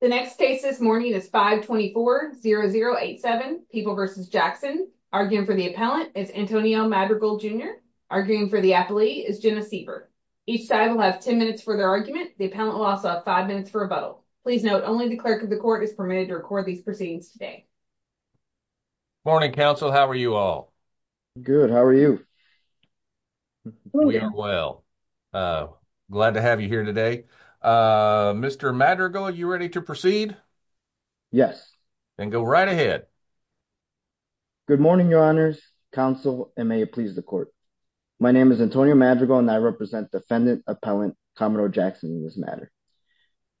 The next case this morning is 524-0087, People v. Jackson. Arguing for the appellant is Antonio Madrigal, Jr. Arguing for the appellee is Jenna Siever. Each side will have 10 minutes for their argument. The appellant will also have five minutes for a vote. Please note, only the clerk of the court is permitted to record these proceedings today. Morning, counsel. How are you all? Good, how are you? We are well. Glad to have you here today. Okay, Mr. Madrigal, are you ready to proceed? Yes. Then go right ahead. Good morning, your honors, counsel, and may it please the court. My name is Antonio Madrigal and I represent defendant appellant Commodore Jackson in this matter.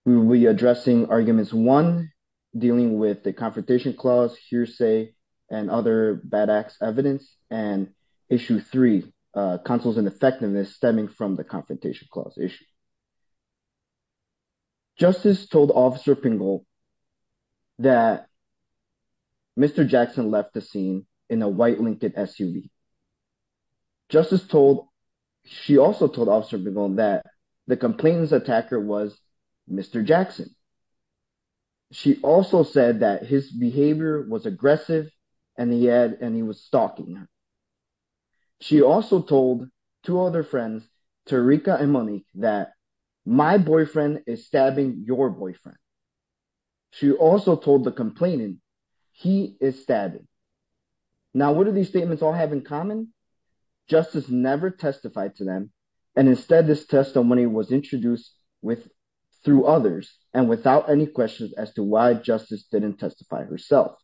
We will be addressing arguments one, dealing with the confrontation clause, hearsay, and other bad acts evidence, and issue three, counsel's ineffectiveness stemming from the confrontation clause issue. Justice told Officer Pingel that Mr. Jackson left the scene in a white Lincoln SUV. Justice told, she also told Officer Pingel that the complainant's attacker was Mr. Jackson. She also said that his behavior was aggressive and he was stalking her. She also told two other friends, Tarika and Monique, that my boyfriend is stabbing your boyfriend. She also told the complainant, he is stabbing. Now, what do these statements all have in common? Justice never testified to them. And instead, this testimony was introduced through others and without any questions as to why justice didn't testify herself.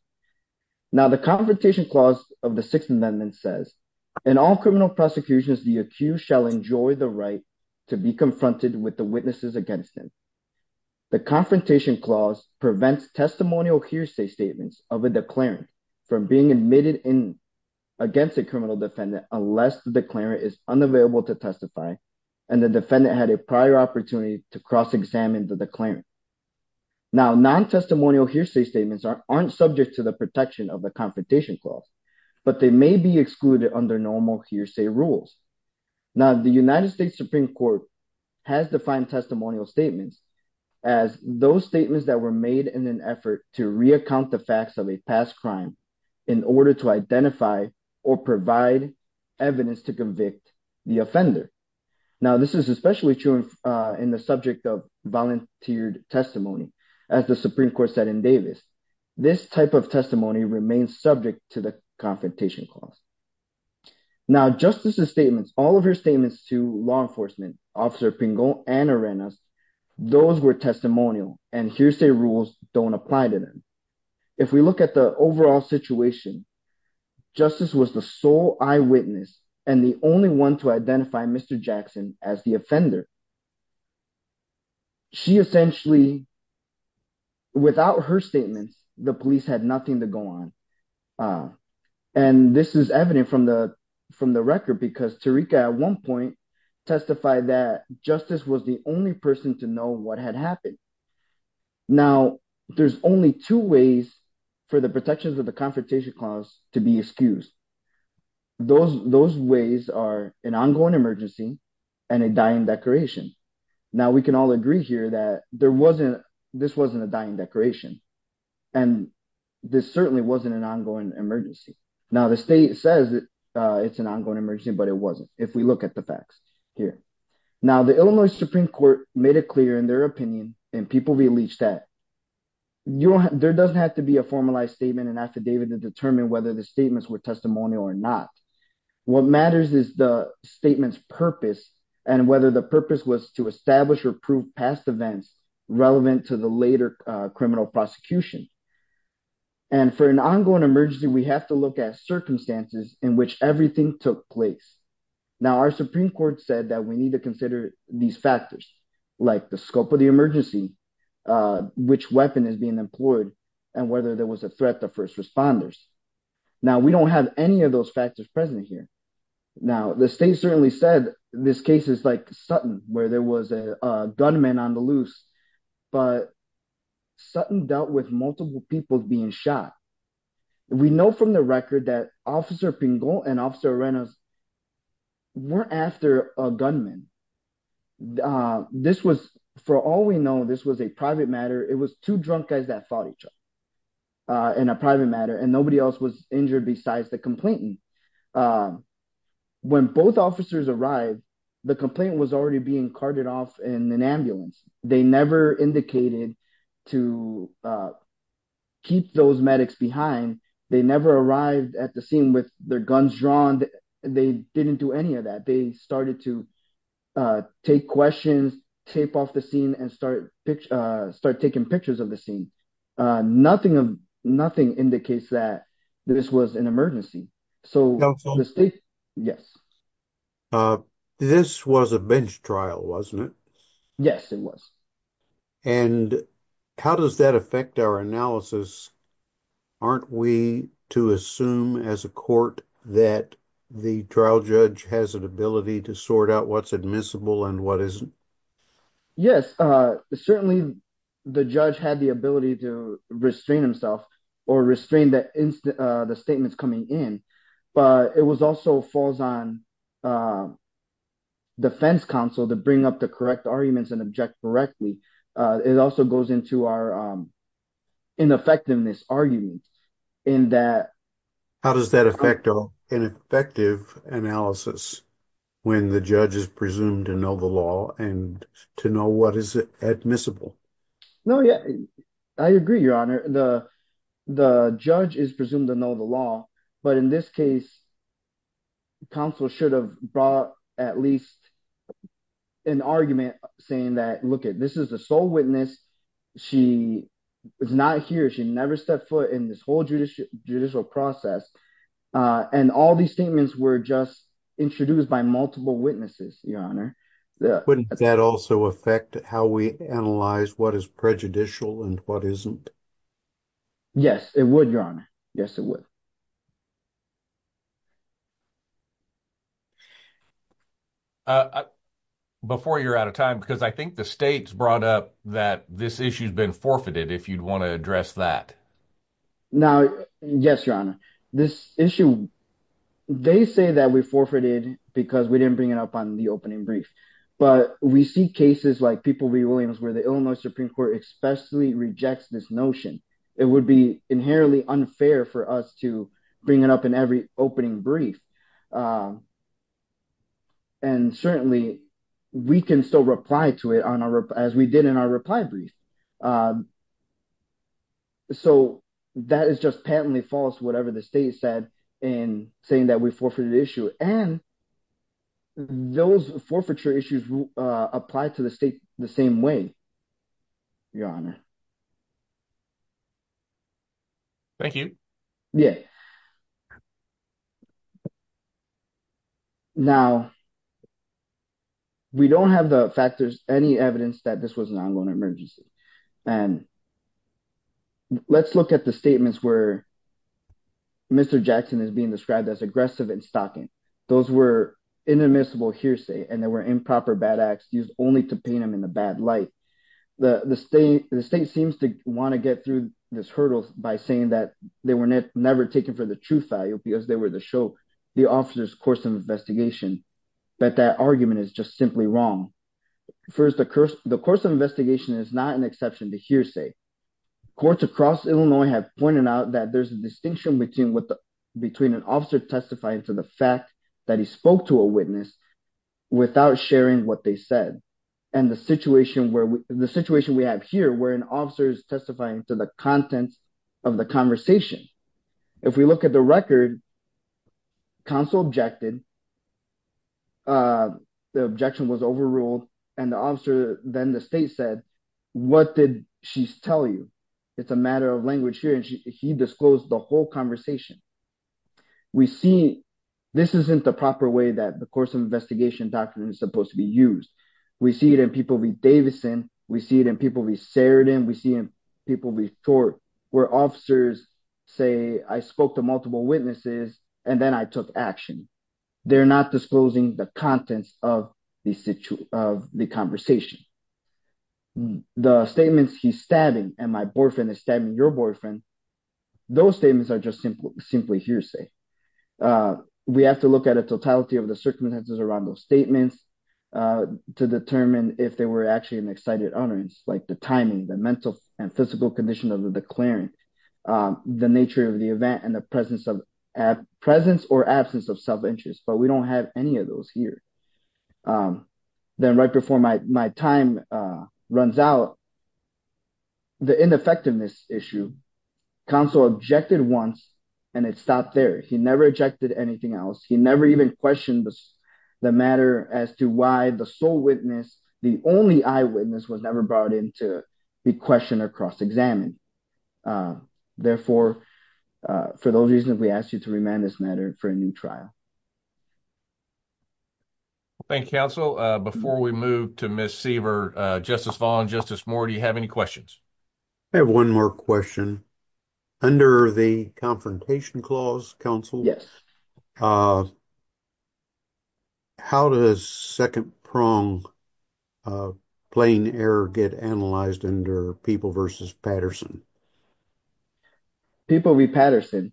Now, the confrontation clause of the Sixth Amendment says, in all criminal prosecutions, the accused shall enjoy the right to be confronted with the witnesses against them. The confrontation clause prevents testimonial hearsay statements of a declarant from being admitted against a criminal defendant unless the declarant is unavailable to testify and the defendant had a prior opportunity to cross-examine the declarant. Now, non-testimonial hearsay statements aren't subject to the protection of the confrontation clause but they may be excluded under normal hearsay rules. Now, the United States Supreme Court has defined testimonial statements as those statements that were made in an effort to re-account the facts of a past crime in order to identify or provide evidence to convict the offender. Now, this is especially true in the subject of volunteered testimony, as the Supreme Court said in Davis. This type of testimony remains subject to the confrontation clause. Now, Justice's statements, all of her statements to law enforcement, Officer Pingo and Arenas, those were testimonial and hearsay rules don't apply to them. If we look at the overall situation, Justice was the sole eyewitness and the only one to identify Mr. Jackson as the offender. She essentially, without her statements, the police had nothing to go on. And this is evident from the record because Tarika at one point testified that Justice was the only person to know what had happened. Now, there's only two ways for the protections of the confrontation clause to be excused. Those ways are an ongoing emergency and a dying declaration. Now, we can all agree here that this wasn't a dying declaration. And this certainly wasn't an ongoing emergency. Now, the state says it's an ongoing emergency, but it wasn't, if we look at the facts here. Now, the Illinois Supreme Court made it clear in their opinion and people released that, there doesn't have to be a formalized statement and affidavit to determine whether the statements were testimonial or not. What matters is the statement's purpose and whether the purpose was to establish or prove past events relevant to the later criminal prosecution. And for an ongoing emergency, we have to look at circumstances in which everything took place. Now, our Supreme Court said that we need to consider these factors, like the scope of the emergency, which weapon is being employed and whether there was a threat to first responders. Now, we don't have any of those factors present here. Now, the state certainly said this case is like Sutton, where there was a gunman on the loose, but Sutton dealt with multiple people being shot. We know from the record that Officer Pingot and Officer Arenas weren't after a gunman. This was, for all we know, this was a private matter. It was two drunk guys that fought each other in a private matter and nobody else was injured besides the complainant. When both officers arrived, the complainant was already being carted off in an ambulance. They never indicated to keep those medics behind. They never arrived at the scene with their guns drawn. They didn't do any of that. They started to take questions, tape off the scene, and start taking pictures of the scene. Nothing indicates that this was an emergency. So the state, yes. This was a bench trial, wasn't it? Yes, it was. And how does that affect our analysis? Aren't we to assume as a court that the trial judge has an ability to sort out what's admissible and what isn't? Yes, certainly the judge had the ability to restrain himself or restrain the statements coming in, but it also falls on defense counsel to bring up the correct arguments and object correctly. It also goes into our ineffectiveness argument in that- How does that affect our ineffective analysis when the judge is presumed to know the law and to know what is admissible? No, I agree, Your Honor. The judge is presumed to know the law, but in this case, counsel should have brought at least an argument saying that, look, this is a sole witness. She is not here. She never stepped foot in this whole judicial process. And all these statements were just introduced by multiple witnesses, Your Honor. Wouldn't that also affect how we analyze what is prejudicial and what isn't? Yes, it would, Your Honor. Yes, it would. Before you're out of time, because I think the state's brought up that this issue's been forfeited if you'd want to address that. Now, yes, Your Honor. This issue, they say that we forfeited because we didn't bring it up on the opening brief, but we see cases like People v. Williams where the Illinois Supreme Court especially rejects this notion. It would be inherently unfair for us to bring up a case like this bring it up in every opening brief. And certainly we can still reply to it as we did in our reply brief. So that is just patently false, whatever the state said in saying that we forfeited the issue. And those forfeiture issues apply to the state the same way, Your Honor. Thank you. Yeah. Now, we don't have the factors, any evidence that this was an ongoing emergency. And let's look at the statements where Mr. Jackson is being described as aggressive and stalking. Those were inadmissible hearsay and they were improper bad acts used only to paint him in a bad light. The state seems to want to get through this hurdle by saying that they were never taken for the truth value because they were the show the officer's course of investigation. But that argument is just simply wrong. First, the course of investigation is not an exception to hearsay. Courts across Illinois have pointed out that there's a distinction between an officer testifying to the fact that he spoke to a witness without sharing what they said. And the situation we have here where an officer is testifying to the contents of the conversation. If we look at the record, counsel objected, the objection was overruled and the officer then the state said, what did she tell you? It's a matter of language here and he disclosed the whole conversation. We see this isn't the proper way that the course of investigation doctrine is supposed to be used. We see it in people like Davison, we see it in people we seared in, we see in people before where officers say, I spoke to multiple witnesses and then I took action. They're not disclosing the contents of the conversation. The statements he's stabbing and my boyfriend is stabbing your boyfriend, those statements are just simply hearsay. We have to look at a totality of the circumstances around those statements to determine if they were actually an excited utterance, like the timing, the mental and physical condition of the declaring, the nature of the event and the presence or absence of self-interest, but we don't have any of those here. Then right before my time runs out, the ineffectiveness issue, counsel objected once and it stopped there. He never objected anything else. He never even questioned the matter as to why the sole witness, the only eyewitness was never brought in to be questioned or cross-examined. Therefore, for those reasons, we ask you to remand this matter for a new trial. Thank you, counsel. Before we move to Ms. Seaver, Justice Vaughn, Justice Moore, do you have any questions? I have one more question. Under the Confrontation Clause, counsel, Yes. How does second-pronged plain error get analyzed under People v. Patterson? People v. Patterson.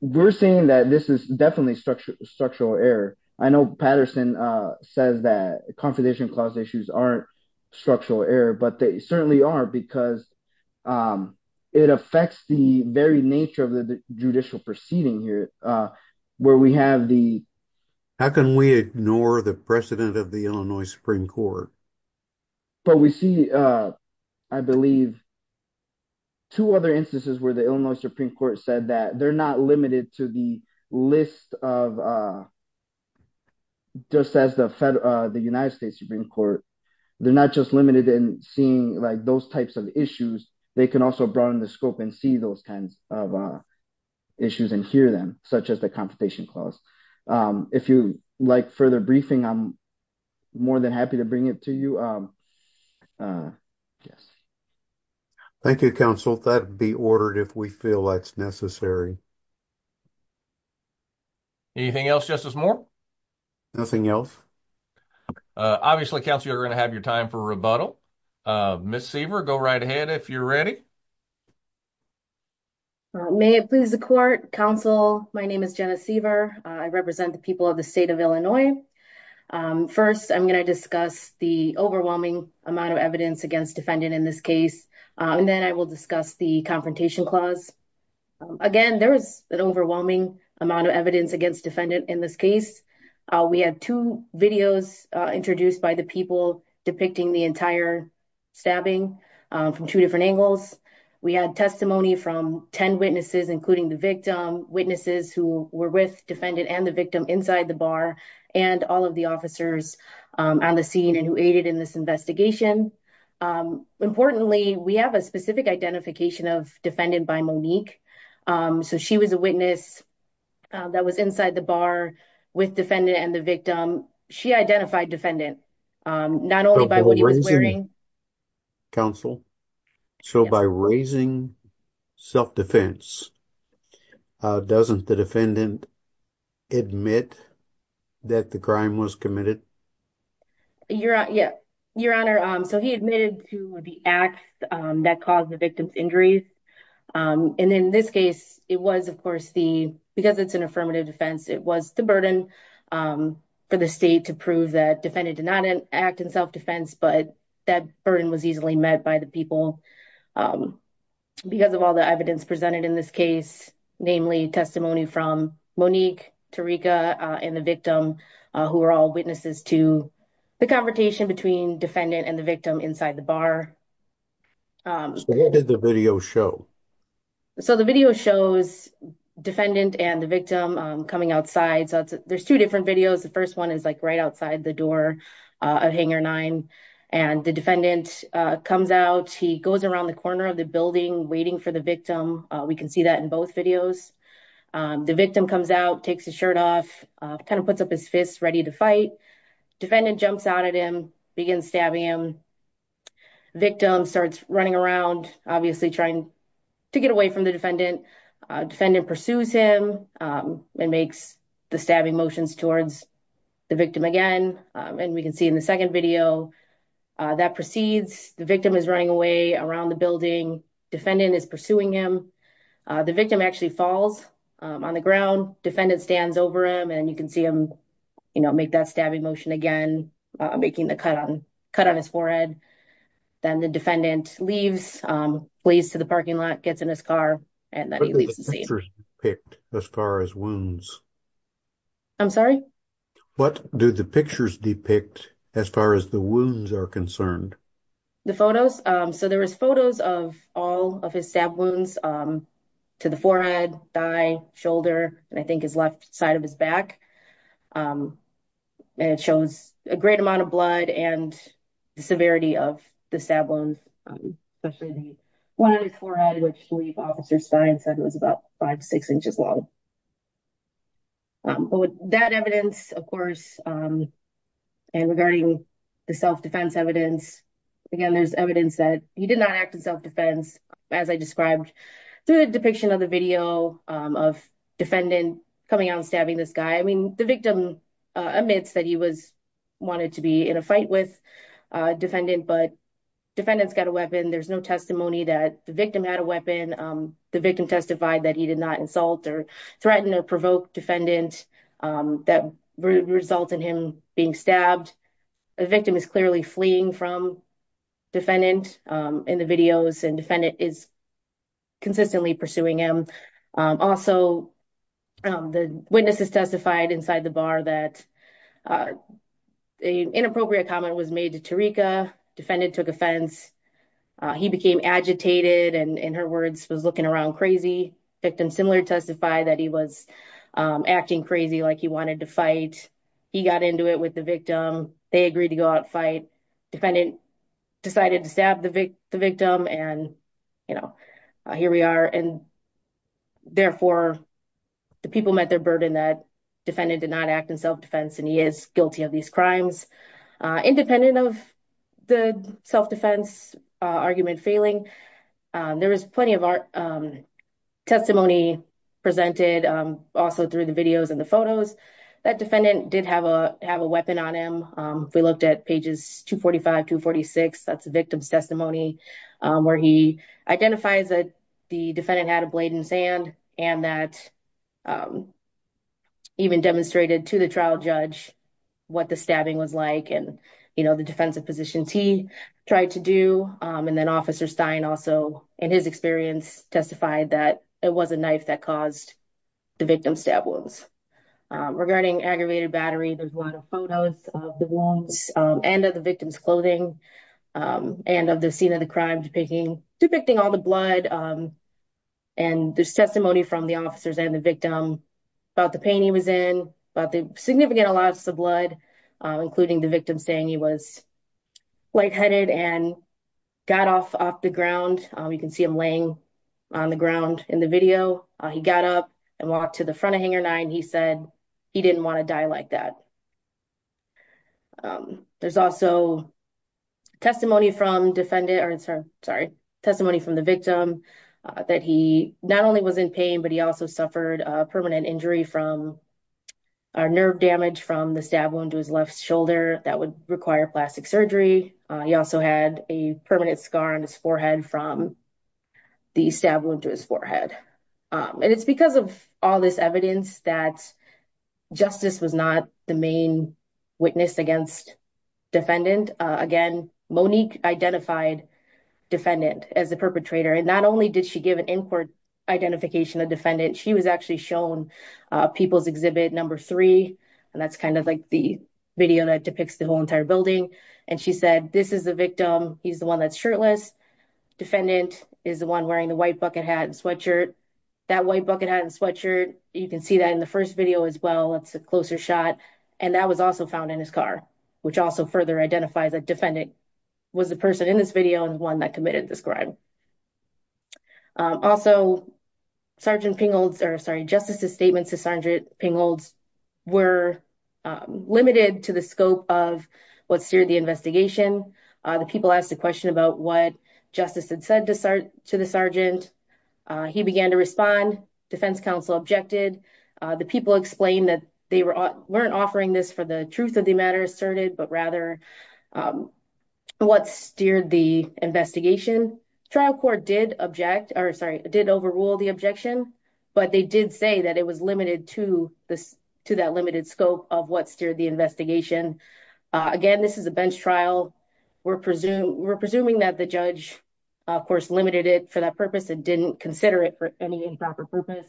We're saying that this is definitely structural error. I know Patterson says that Confrontation Clause issues aren't structural error, but they certainly are because it affects the very nature of the judicial proceeding here where we have the- How can we ignore the precedent of the Illinois Supreme Court? But we see, I believe, two other instances where the Illinois Supreme Court said that they're not limited to the list of, just as the United States Supreme Court, they're not just limited in seeing those types of issues. They can also broaden the scope and see those kinds of issues and hear them, such as the Confrontation Clause. If you like further briefing, I'm more than happy to bring it to you. Yes. Thank you, counsel. That'd be ordered if we feel that's necessary. Anything else, Justice Moore? Nothing else. Obviously, counsel, you're gonna have your time for rebuttal. Ms. Seaver, go right ahead if you're ready. May it please the court. Counsel, my name is Jenna Seaver. I represent the people of the state of Illinois. First, I'm gonna discuss the overwhelming amount of evidence against defendant in this case. And then I will discuss the Confrontation Clause. Again, there was an overwhelming amount of evidence against defendant in this case. We had two videos introduced by the people depicting the entire stabbing from two different angles. We had testimony from 10 witnesses, including the victim, witnesses who were with defendant and the victim inside the bar, and all of the officers on the scene and who aided in this investigation. Importantly, we have a specific identification of defendant by Monique. So she was a witness that was inside the bar with defendant and the victim. She identified defendant, not only by what he was wearing. Counsel, so by raising self-defense, doesn't the defendant admit that the crime was committed? Your Honor, so he admitted to the act that caused the victim's injury. And in this case, it was of course the, because it's an affirmative defense, it was the burden for the state to prove that defendant did not act in self-defense, but that burden was easily met by the people because of all the evidence presented in this case, namely testimony from Monique, Tarika, and the victim who were all witnesses to the confrontation between defendant and the victim inside the bar. So what did the video show? So the video shows defendant and the victim coming outside. So there's two different videos. The first one is like right outside the door of Hanger 9 and the defendant comes out. He goes around the corner of the building waiting for the victim. We can see that in both videos. The victim comes out, takes his shirt off, kind of puts up his fists ready to fight. Defendant jumps out at him, begins stabbing him. Victim starts running around, obviously trying to get away from the defendant. Defendant pursues him and makes the stabbing motions towards the victim again. And we can see in the second video that proceeds. The victim is running away around the building. Defendant is pursuing him. The victim actually falls on the ground. Defendant stands over him and you can see him make that stabbing motion again, making the cut on his forehead. Then the defendant leaves, plays to the parking lot, gets in his car, and then he leaves the scene. What do the pictures depict as far as wounds? I'm sorry? What do the pictures depict as far as the wounds are concerned? The photos? So there was photos of all of his stab wounds to the forehead, thigh, shoulder, and I think his left side of his back. It shows a great amount of blood and the severity of the stab wounds. Especially the one on his forehead which police officer Stein said it was about five, six inches long. But with that evidence, of course, and regarding the self-defense evidence, again, there's evidence that he did not act in self-defense as I described through the depiction of the video of defendant coming out and stabbing this guy. I mean, the victim admits that he was, wanted to be in a fight with a defendant, but defendant's got a weapon. There's no testimony that the victim had a weapon. The victim testified that he did not insult or threaten or provoke defendant that would result in him being stabbed. The victim is clearly fleeing from defendant in the videos and defendant is consistently pursuing him. Also, the witnesses testified inside the bar that an inappropriate comment was made to Tarika. Defendant took offense. He became agitated and in her words, was looking around crazy. Victim similarly testified that he was acting crazy like he wanted to fight. He got into it with the victim. They agreed to go out and fight. Defendant decided to stab the victim and here we are. And therefore the people met their burden that defendant did not act in self-defense and he is guilty of these crimes. Independent of the self-defense argument failing, there was plenty of testimony presented also through the videos and the photos that defendant did have a weapon on him. We looked at pages 245, 246, that's the victim's testimony where he identifies that the defendant had a blade in sand and that even demonstrated to the trial judge what the stabbing was like and the defensive positions he tried to do. And then officer Stein also in his experience testified that it was a knife that caused the victim's stab wounds. Regarding aggravated battery, there's a lot of photos of the wounds and of the victim's clothing and of the scene of the crime depicting all the blood. And there's testimony from the officers and the victim about the pain he was in, about the significant loss of blood, including the victim saying he was lightheaded and got off the ground. You can see him laying on the ground in the video. He got up and walked to the front of Hanger 9. He said he didn't wanna die like that. There's also testimony from defendant, or sorry, testimony from the victim that he not only was in pain, but he also suffered a permanent injury from a nerve damage from the stab wound to his left shoulder that would require plastic surgery. He also had a permanent scar on his forehead from the stab wound to his forehead. And it's because of all this evidence that justice was not the main witness against defendant. Again, Monique identified defendant as the perpetrator. And not only did she give an in-court identification of defendant, she was actually shown People's Exhibit number three. And that's kind of like the video that depicts the whole entire building. And she said, this is the victim. He's the one that's shirtless. Defendant is the one wearing the white bucket hat and sweatshirt. That white bucket hat and sweatshirt, you can see that in the first video as well. It's a closer shot. And that was also found in his car, which also further identifies that defendant was the person in this video and the one that committed this crime. Also, Sergeant Pingold's, or sorry, Justice's statements to Sergeant Pingold's were limited to the scope of what steered the investigation. The people asked a question about what Justice had said to the Sergeant. He began to respond. Defense counsel objected. The people explained that they weren't offering this for the truth of the matter asserted, but rather what steered the investigation. Trial court did object, or sorry, did overrule the objection, but they did say that it was limited to that limited scope of what steered the investigation. Again, this is a bench trial. We're presuming that the judge, of course, limited it for that purpose and didn't consider it for any improper purpose.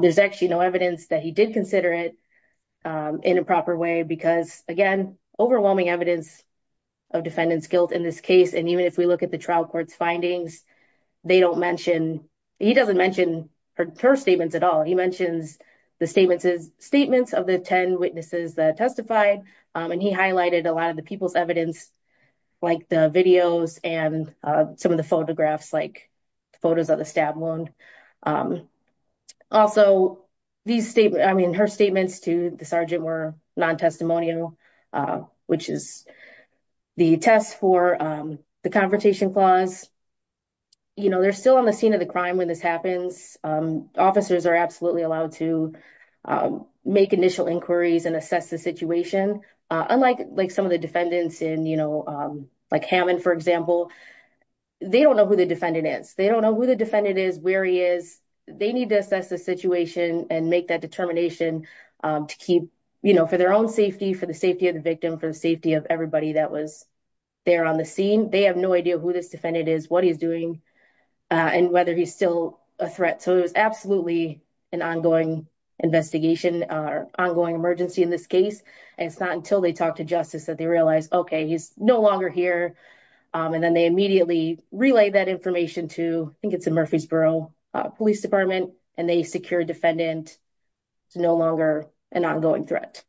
There's actually no evidence that he did consider it in a proper way, because again, overwhelming evidence of defendant's guilt in this case. And even if we look at the trial court's findings, they don't mention, he doesn't mention her statements at all. He mentions the statements of the 10 witnesses that testified, and he highlighted a lot of the people's evidence, like the videos and some of the photographs, like photos of the stab wound. Also, these statements, I mean, her statements to the Sergeant were non-testimonial, which is the test for the Confrontation Clause. They're still on the scene of the crime when this happens. Officers are absolutely allowed to make initial inquiries and assess the situation. Unlike some of the defendants in, like Hammond, for example, they don't know who the defendant is. They don't know who the defendant is, where he is. They need to assess the situation and make that determination to keep, you know, for their own safety, for the safety of the victim, for the safety of everybody that was there on the scene. They have no idea who this defendant is, what he's doing, and whether he's still a threat. So it was absolutely an ongoing investigation or ongoing emergency in this case. And it's not until they talk to justice that they realize, okay, he's no longer here. And then they immediately relay that information to, I think it's a Murfreesboro Police Department, and they secure a defendant. It's no longer an ongoing threat.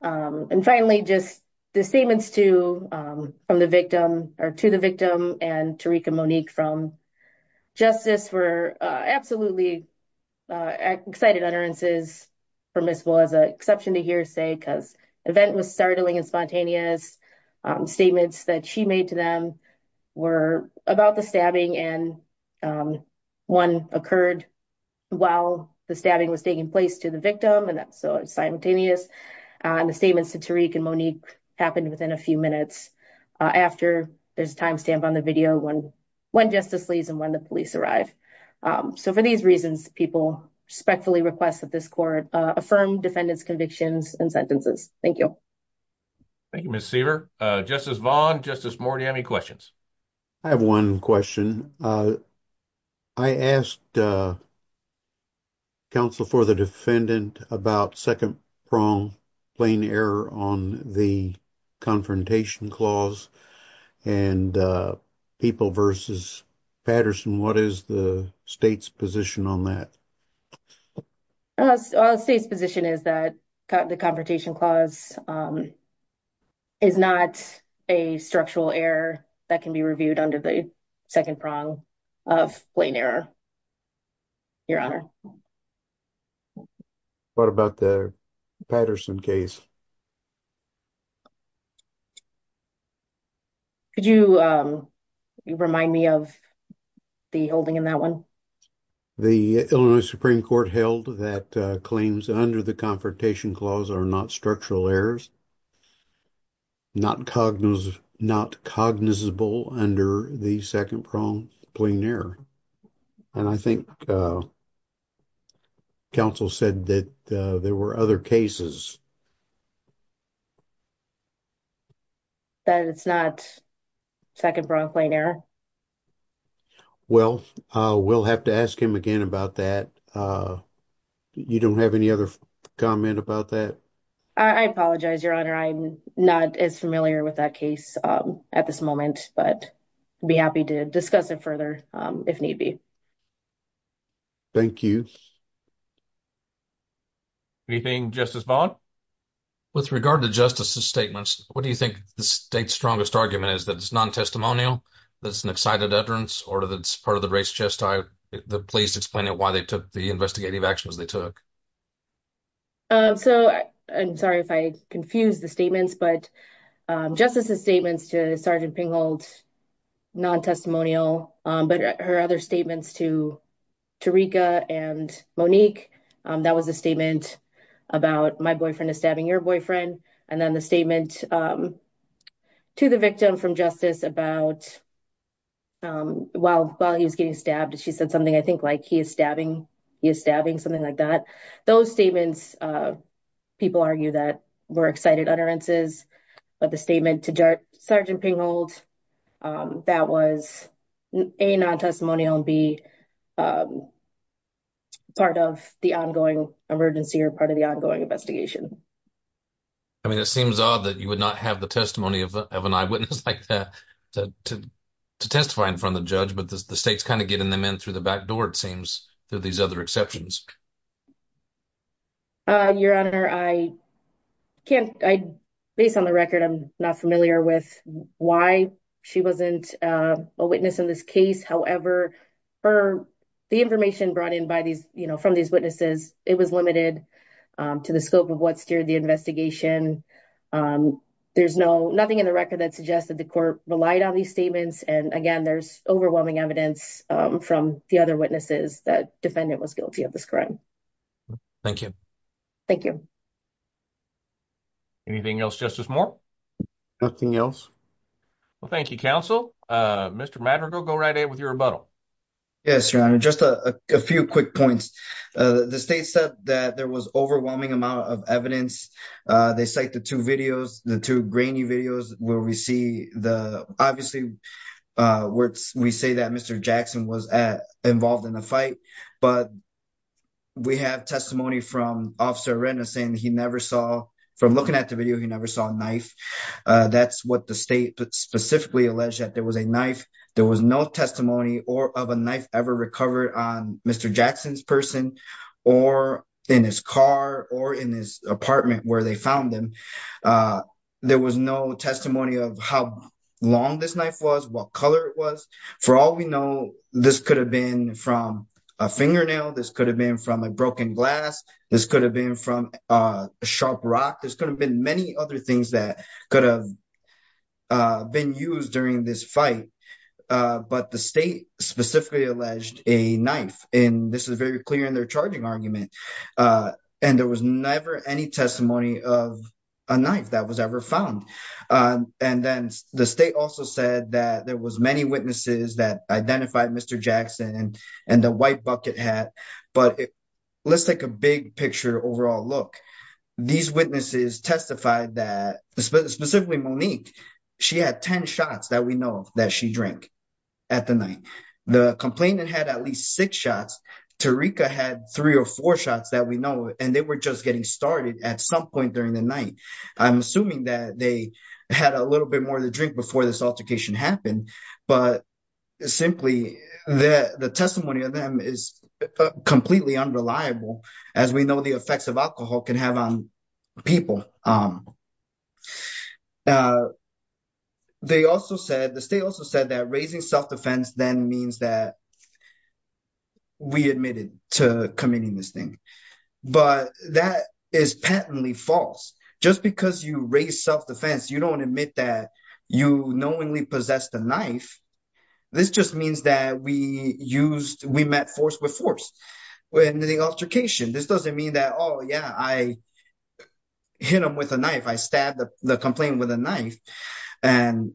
And finally, just the statements to the victim and Tarika Monique from justice were absolutely excited utterances, permissible as an exception to hearsay because the event was startling and spontaneous. Statements that she made to them were about the stabbing and one occurred while the stabbing was taking place to the victim. And that's so it's simultaneous. And the statements to Tarika Monique happened within a few minutes after there's timestamp on the video when justice leaves and when the police arrive. So for these reasons, people respectfully request that this court affirm defendant's convictions and sentences. Thank you. Thank you, Ms. Seaver. Justice Vaughn, Justice Moore, do you have any questions? I have one question. I asked counsel for the defendant about second prong plain error on the confrontation clause and people versus Patterson. What is the state's position on that? State's position is that the confrontation clause is not a structural error that can be reviewed under the second prong of plain error, your honor. What about the Patterson case? Could you remind me of the holding in that one? The Illinois Supreme Court held that claims under the confrontation clause are not structural errors, not cognizable under the second prong plain error. And I think counsel said that there were other cases. That it's not second prong plain error? Well, we'll have to ask him again about that. You don't have any other comment about that? I apologize, your honor. I'm not as familiar with that case at this moment, but I'd be happy to discuss it further if need be. Thank you. Anything, Justice Vaughn? With regard to justice's statements, what do you think the state's strongest argument is that it's non-testimonial, that it's an excited utterance, or that it's part of the race chest? The police explain it, why they took the investigative actions they took. So, I'm sorry if I confused the statements, but justice's statements to Sergeant Pinghold, non-testimonial, but her other statements to Tariqa and Monique, that was a statement about my boyfriend is stabbing your boyfriend. And then the statement to the victim from justice about while he was getting stabbed, she said something, I think like he is stabbing, he is stabbing, something like that. Those statements, people argue that were excited utterances, but the statement to Sergeant Pinghold, that was A, non-testimonial, and B, part of the ongoing emergency, or part of the ongoing investigation. I mean, it seems odd that you would not have the testimony of an eyewitness like that to testify in front of the judge, but the state's kind of getting them in through the back door, it seems, through these other exceptions. Your Honor, based on the record, I'm not familiar with why she wasn't a witness in this case. However, the information brought in from these witnesses, it was limited to the scope of what steered the investigation. And there's nothing in the record that suggests that the court relied on these statements. And again, there's overwhelming evidence from the other witnesses that defendant was guilty of this crime. Thank you. Thank you. Anything else, Justice Moore? Nothing else. Well, thank you, counsel. Mr. Madrigal, go right ahead with your rebuttal. Yes, Your Honor, just a few quick points. The state said that there was overwhelming amount of evidence. They cite the two videos, the two grainy videos where we see the... Obviously, we say that Mr. Jackson was involved in the fight, but we have testimony from Officer Arenda saying he never saw, from looking at the video, he never saw a knife. That's what the state specifically alleged, that there was a knife, there was no testimony of a knife ever recovered on Mr. Jackson's person or in his car or in his apartment where they found him. There was no testimony of how long this knife was, what color it was. For all we know, this could have been from a fingernail, this could have been from a broken glass, this could have been from a sharp rock, this could have been many other things that could have been used during this fight. But the state specifically alleged a knife, and this is very clear in their charging argument. And there was never any testimony of a knife that was ever found. And then the state also said that there was many witnesses that identified Mr. Jackson and the white bucket hat. But let's take a big picture overall look. These witnesses testified that, specifically Monique, she had 10 shots that we know that she drank at the night. The complainant had at least six shots, Tarika had three or four shots that we know, and they were just getting started at some point during the night. I'm assuming that they had a little bit more to drink before this altercation happened, but simply the testimony of them is completely unreliable as we know the effects of alcohol can have on people. They also said, the state also said that raising self-defense then means that we admitted to committing this thing. But that is patently false. Just because you raise self-defense, you don't admit that you knowingly possessed a knife. This just means that we met force with force. When the altercation, this doesn't mean that, oh yeah, I hit him with a knife. I stabbed the complainant with a knife. And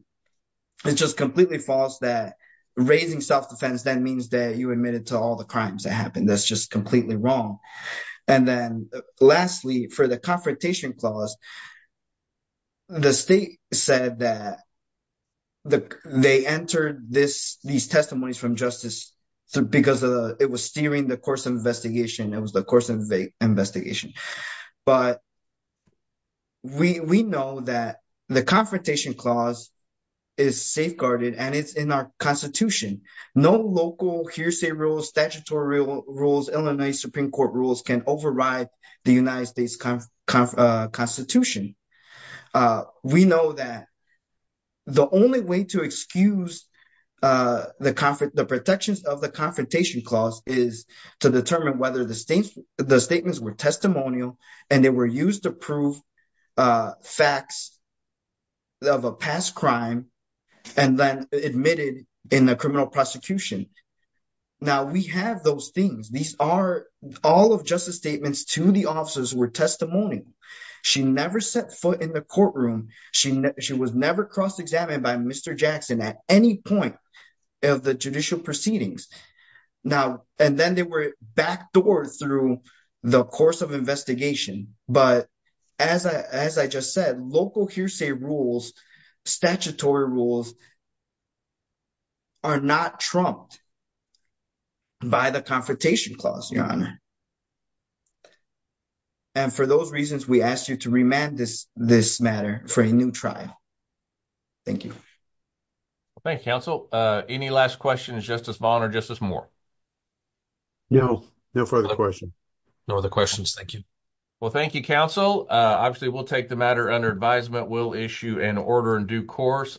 it's just completely false that raising self-defense then means that you admitted to all the crimes that happened. That's just completely wrong. And then lastly, for the confrontation clause, the state said that they entered these testimonies from justice because it was steering the course of investigation. It was the course of investigation. But we know that the confrontation clause is safeguarded and it's in our constitution. No local hearsay rules, statutory rules, Illinois Supreme Court rules can override the United States Constitution. We know that the only way to excuse the protections of the confrontation clause is to determine whether the statements were testimonial and they were used to prove facts of a past crime. And then admitted in the criminal prosecution. Now we have those things. These are all of justice statements to the officers were testimonial. She never set foot in the courtroom. She was never cross-examined by Mr. Jackson at any point of the judicial proceedings. Now, and then they were backdoored through the course of investigation. But as I just said, local hearsay rules, statutory rules are not trumped by the confrontation clause, Your Honor. And for those reasons, we ask you to remand this matter for a new trial. Thank you. Well, thank you, counsel. Any last questions, Justice Vaughn or Justice Moore? No, no further questions. No other questions, thank you. Well, thank you, counsel. Obviously we'll take the matter under advisement. We'll issue an order in due course.